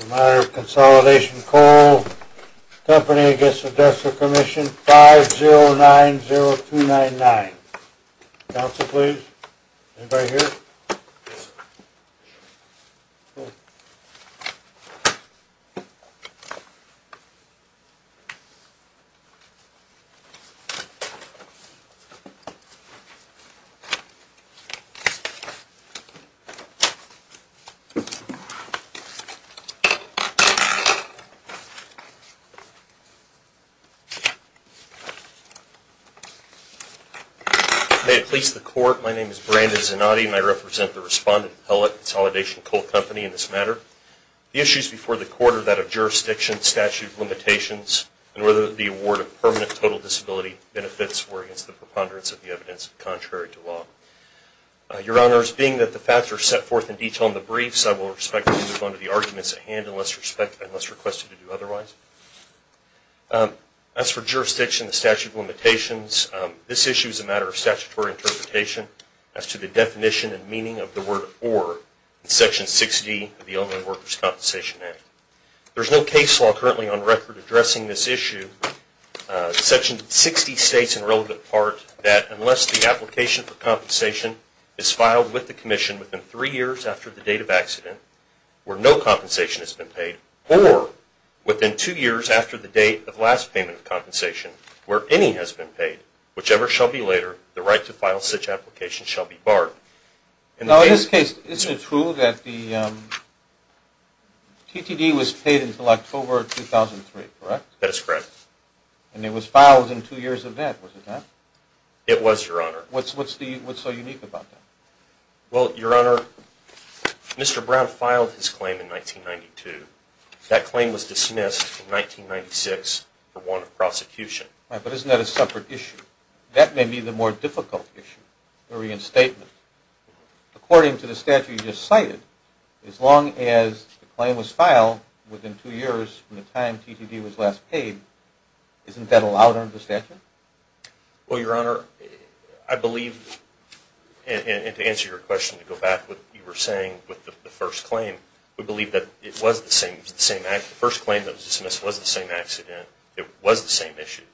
A matter of Consolidation Coal Company v. The Workers' Compensation Commission, 5090299. Counsel, please. Anybody here? May it please the Court, my name is Brandon Zanotti and I represent the respondent appellate, Consolidation Coal Company, in this matter. The issues before the Court are that of jurisdiction, statute of limitations, and whether the award of permanent total disability benefits were against the preponderance of the evidence contrary to law. Your Honors, being that the facts are set forth in detail in the briefs, I will respectfully move on to the arguments at hand unless requested to do otherwise. As for jurisdiction, the statute of limitations, this issue is a matter of statutory interpretation as to the definition and meaning of the word or in Section 60 of the Illinois Workers' Compensation Act. There is no case law currently on record addressing this issue. Section 60 states in relevant part that unless the application for compensation is filed with the Commission within three years after the date of accident, where no compensation has been paid, or within two years after the date of last payment of compensation, where any has been paid, whichever shall be later, the right to file such application shall be barred. Now, in this case, isn't it true that the TTD was paid until October 2003, correct? That is correct. And it was filed in two years of that, was it not? It was, Your Honor. What's so unique about that? Well, Your Honor, Mr. Brown filed his claim in 1992. That claim was dismissed in 1996 for warrant of prosecution. But isn't that a separate issue? That may be the more difficult issue, the reinstatement. According to the statute you just cited, as long as the claim was filed within two years from the time TTD was last paid, isn't that allowed under the statute? Well, Your Honor, I believe, and to answer your question, to go back to what you were saying with the first claim, we believe that it was the same accident. The first claim that was dismissed was the same accident. It was the same issues.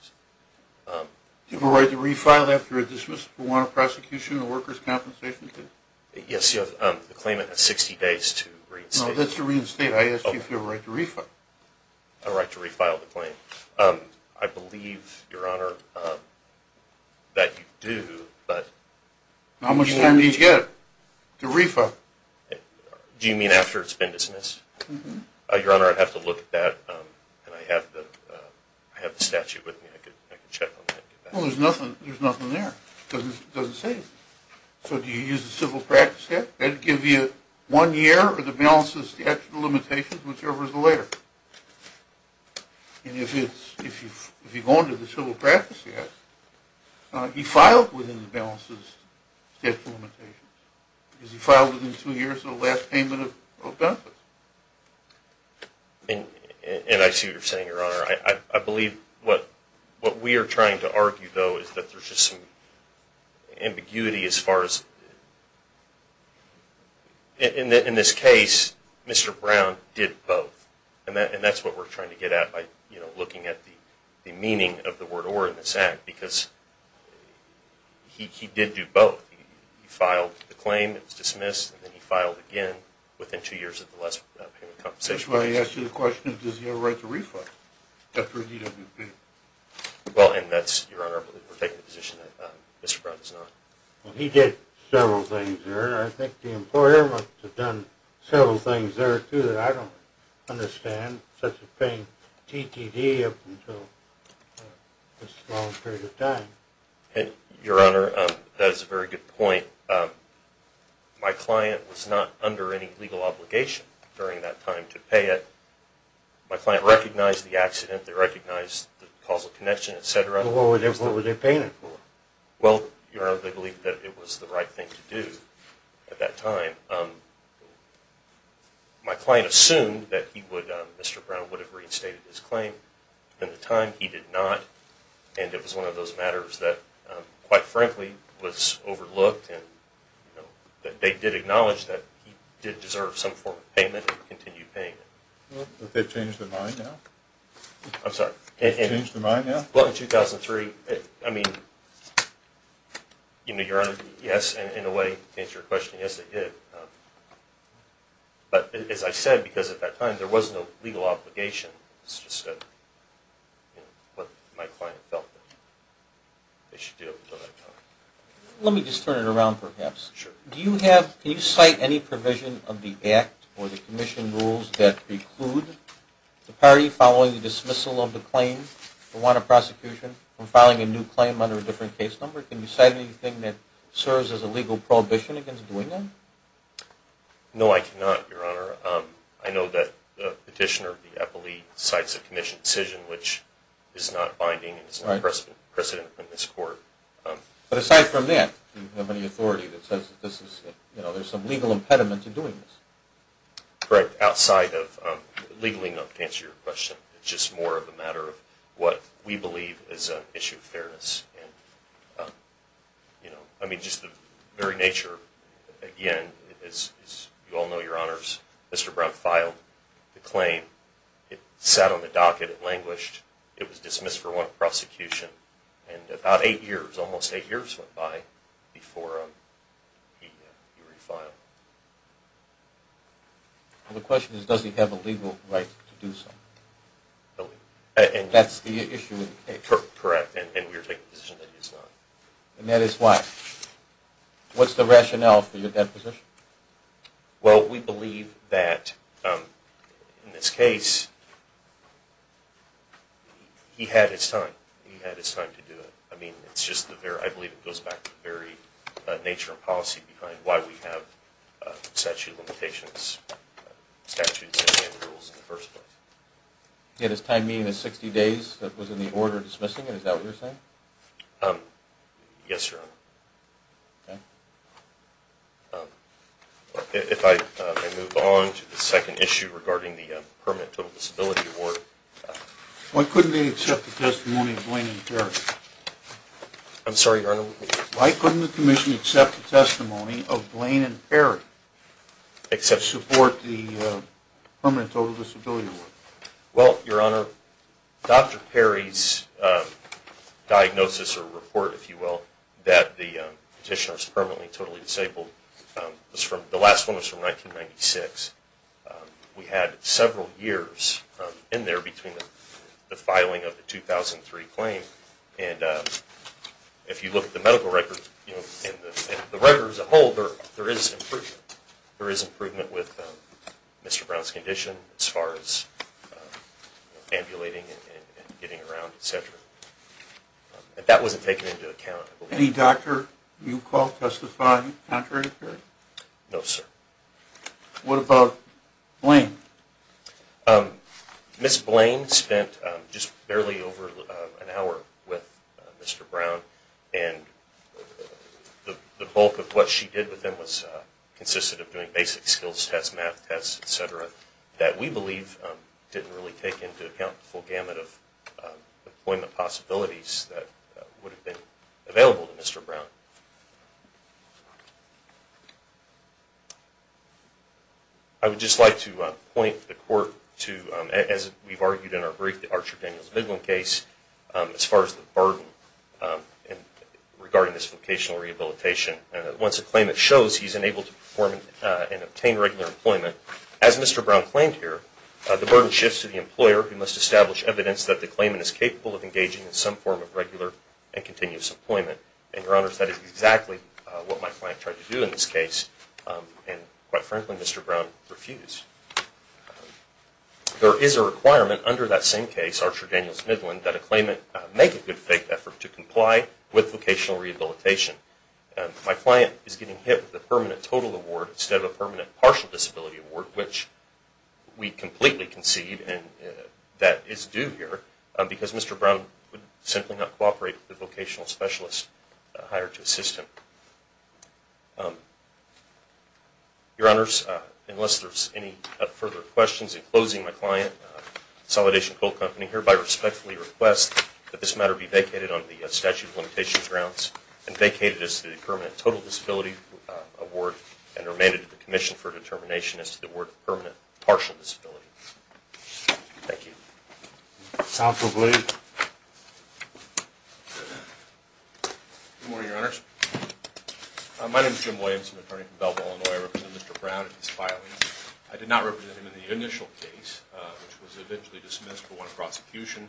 Do you have a right to refile after a dismissal for warrant of prosecution and workers' compensation? Yes, you have the claimant has 60 days to reinstate. No, that's to reinstate. I asked you if you have a right to refile. I have a right to refile the claim. I believe, Your Honor, that you do, but... How much time do you need to get it to refile? Do you mean after it's been dismissed? Mm-hmm. Your Honor, I'd have to look at that, and I have the statute with me. I could check on that. Well, there's nothing there. It doesn't say anything. So do you use the civil practice act? That would give you one year or the balance of the statute of limitations, whichever is the later. And if you go under the civil practice act, he filed within the balance of the statute of limitations. Because he filed within two years of the last payment of benefits. And I see what you're saying, Your Honor. I believe what we are trying to argue, though, is that there's just some ambiguity as far as... In this case, Mr. Brown did both. And that's what we're trying to get at by looking at the meaning of the word or in this act. Because he did do both. He filed the claim, it was dismissed, and then he filed again within two years of the last payment of compensation. That's why I asked you the question, does he have a right to refile after a DWP? Well, and that's, Your Honor, we're taking the position that Mr. Brown does not. Well, he did several things there, and I think the employer must have done several things there, too, that I don't understand. Such as paying TTD up until this long period of time. Your Honor, that is a very good point. My client was not under any legal obligation during that time to pay it. My client recognized the accident, they recognized the causal connection, etc. What were they paying it for? Well, Your Honor, they believed that it was the right thing to do at that time. My client assumed that Mr. Brown would have reinstated his claim. At the time, he did not. And it was one of those matters that, quite frankly, was overlooked. They did acknowledge that he did deserve some form of payment and continued payment. Well, have they changed their mind now? I'm sorry. Have they changed their mind now? Well, in 2003, I mean, you know, Your Honor, yes, in a way, to answer your question, yes, they did. But, as I said, because at that time there was no legal obligation. It's just what my client felt that they should do at that time. Let me just turn it around, perhaps. Sure. Can you cite any provision of the Act or the Commission rules that preclude the party following the dismissal of the claim or want of prosecution from filing a new claim under a different case number? Can you cite anything that serves as a legal prohibition against doing that? No, I cannot, Your Honor. I know that the petitioner, the appellee, cites a Commission decision which is not binding and is not precedent in this court. But aside from that, do you have any authority that says that this is, you know, there's some legal impediment to doing this? Correct. Outside of legally not to answer your question. It's just more of a matter of what we believe is an issue of fairness. And, you know, I mean, just the very nature, again, as you all know, Your Honors, Mr. Brown filed the claim. It sat on the docket. It languished. It was dismissed for want of prosecution. And about eight years, almost eight years went by before he refiled. The question is, does he have a legal right to do so? Illegal. That's the issue of the case. Correct. And we are taking a position that he does not. And that is why? What's the rationale for that position? Well, we believe that, in this case, he had his time. He had his time to do it. I mean, it's just the very, I believe it goes back to the very nature and policy behind why we have statute of limitations, statutes and rules in the first place. He had his time meeting in 60 days that was in the order of dismissing it. Is that what you're saying? Yes, Your Honor. If I move on to the second issue regarding the permanent total disability award. Why couldn't they accept the testimony of Blaine and Perry? I'm sorry, Your Honor? Why couldn't the Commission accept the testimony of Blaine and Perry to support the permanent total disability award? Well, Your Honor, Dr. Perry's diagnosis or report, if you will, that the petitioner is permanently totally disabled, the last one was from 1996. We had several years in there between the filing of the 2003 claim. And if you look at the medical records and the record as a whole, there is improvement. Improvement with Mr. Brown's condition as far as ambulating and getting around, etc. That wasn't taken into account. Any doctor you called testified contrary to Perry? No, sir. What about Blaine? Ms. Blaine spent just barely over an hour with Mr. Brown. And the bulk of what she did with him consisted of doing basic skills tests, math tests, etc. that we believe didn't really take into account the full gamut of appointment possibilities that would have been available to Mr. Brown. I would just like to point the Court to, as we've argued in our brief, the Archer-Daniels-Biglin case, as far as the burden regarding this vocational rehabilitation. Once a claimant shows he's unable to perform and obtain regular employment, as Mr. Brown claimed here, the burden shifts to the employer who must establish evidence that the claimant is capable of engaging in some form of regular and continuous employment. And, Your Honors, that is exactly what my client tried to do in this case. And, quite frankly, Mr. Brown refused. There is a requirement under that same case, Archer-Daniels-Biglin, that a claimant make a good faith effort to comply with vocational rehabilitation. My client is getting hit with a permanent total award instead of a permanent partial disability award, which we completely concede that is due here, because Mr. Brown would simply not cooperate with the vocational specialist hired to assist him. Your Honors, unless there are any further questions, in closing, my client, Consolidation Coal Company, hereby respectfully request that this matter be vacated on the statute of limitations grounds, and vacated as to the permanent total disability award, and remanded to the Commission for determination as to the word permanent partial disability. Thank you. Counsel Blades. Good morning, Your Honors. My name is Jim Williams. I'm an attorney from Belleville, Illinois. I represent Mr. Brown in this filing. I did not represent him in the initial case, which was eventually dismissed for one prosecution,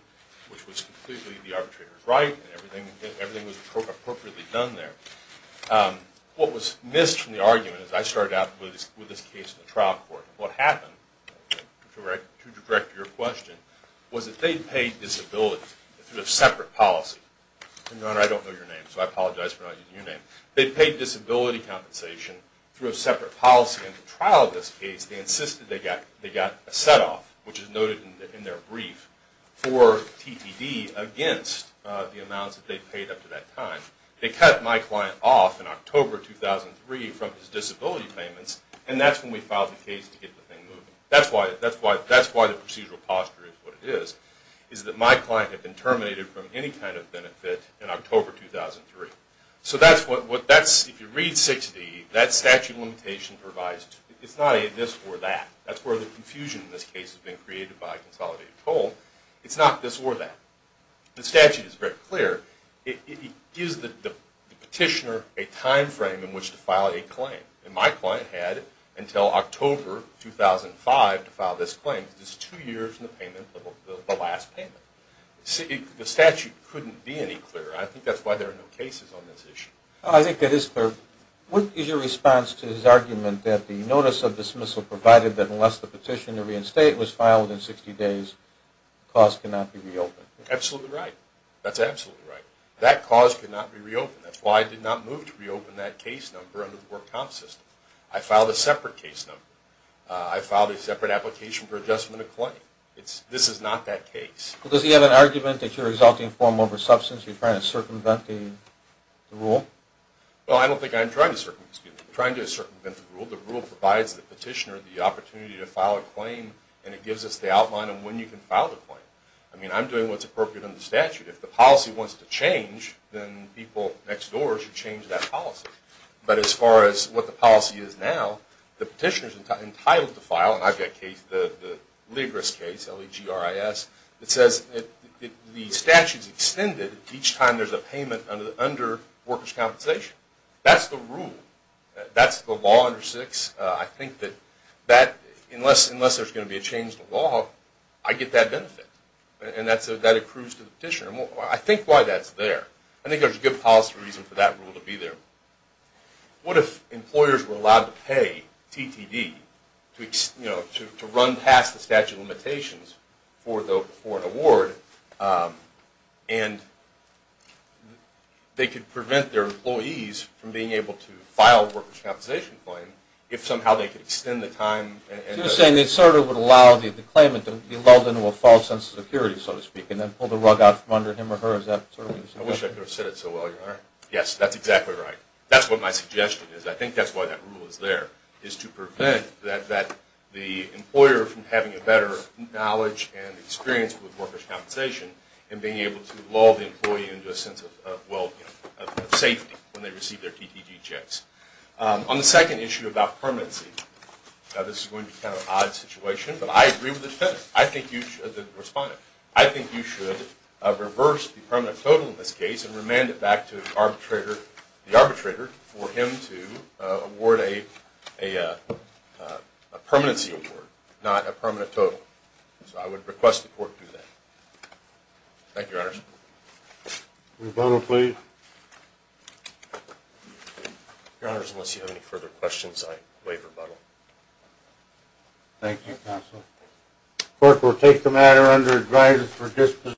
which was completely the arbitrator's right, and everything was appropriately done there. What was missed from the argument is that I started out with this case in the trial court. What happened, to direct your question, was that they paid disability through a separate policy. Your Honor, I don't know your name, so I apologize for not using your name. They paid disability compensation through a separate policy. In the trial of this case, they insisted they got a set-off, which is noted in their brief, for TTD against the amounts that they paid up to that time. They cut my client off in October 2003 from his disability payments, and that's when we filed the case to get the thing moving. That's why the procedural posture is what it is, is that my client had been terminated from any kind of benefit in October 2003. If you read 6D, that statute limitation provides, it's not a this or that. That's where the confusion in this case has been created by a consolidated toll. It's not this or that. The statute is very clear. It gives the petitioner a time frame in which to file a claim. My client had until October 2005 to file this claim. This is two years from the payment, the last payment. The statute couldn't be any clearer. I think that's why there are no cases on this issue. I think that is fair. What is your response to his argument that the notice of dismissal provided that unless the petition to reinstate was filed within 60 days, the cause could not be reopened? Absolutely right. That's absolutely right. That cause could not be reopened. That's why I did not move to reopen that case number under the work comp system. I filed a separate case number. I filed a separate application for adjustment of claim. This is not that case. Does he have an argument that you're exalting form over substance? You're trying to circumvent the rule? Well, I don't think I'm trying to circumvent the rule. The rule provides the petitioner the opportunity to file a claim, and it gives us the outline of when you can file the claim. I mean, I'm doing what's appropriate under the statute. If the policy wants to change, then people next door should change that policy. But as far as what the policy is now, the petitioner is entitled to file, and I've got the Ligris case, L-E-G-R-I-S, that says the statute is extended each time there's a payment under workers' compensation. That's the rule. That's the law under 6. I think that unless there's going to be a change to the law, I get that benefit. And that accrues to the petitioner. I think why that's there. I think there's a good policy reason for that rule to be there. What if employers were allowed to pay TTD to run past the statute of limitations for an award, and they could prevent their employees from being able to file a workers' compensation claim if somehow they could extend the time? So you're saying they sort of would allow the claimant to be lulled into a false sense of security, so to speak, and then pull the rug out from under him or her? I wish I could have said it so well, Your Honor. Yes, that's exactly right. That's what my suggestion is. I think that's why that rule is there, is to prevent the employer from having a better knowledge and experience with workers' compensation and being able to lull the employee into a sense of safety when they receive their TTD checks. On the second issue about permanency, this is going to be kind of an odd situation, but I agree with the defendant, the respondent. I think you should reverse the permanent total in this case and remand it back to the arbitrator for him to award a permanency award, not a permanent total. So I would request the court do that. Thank you, Your Honor. Rebuttal, please. Your Honor, unless you have any further questions, I waive rebuttal. Thank you, counsel. The court will take the matter under advisory for disposition.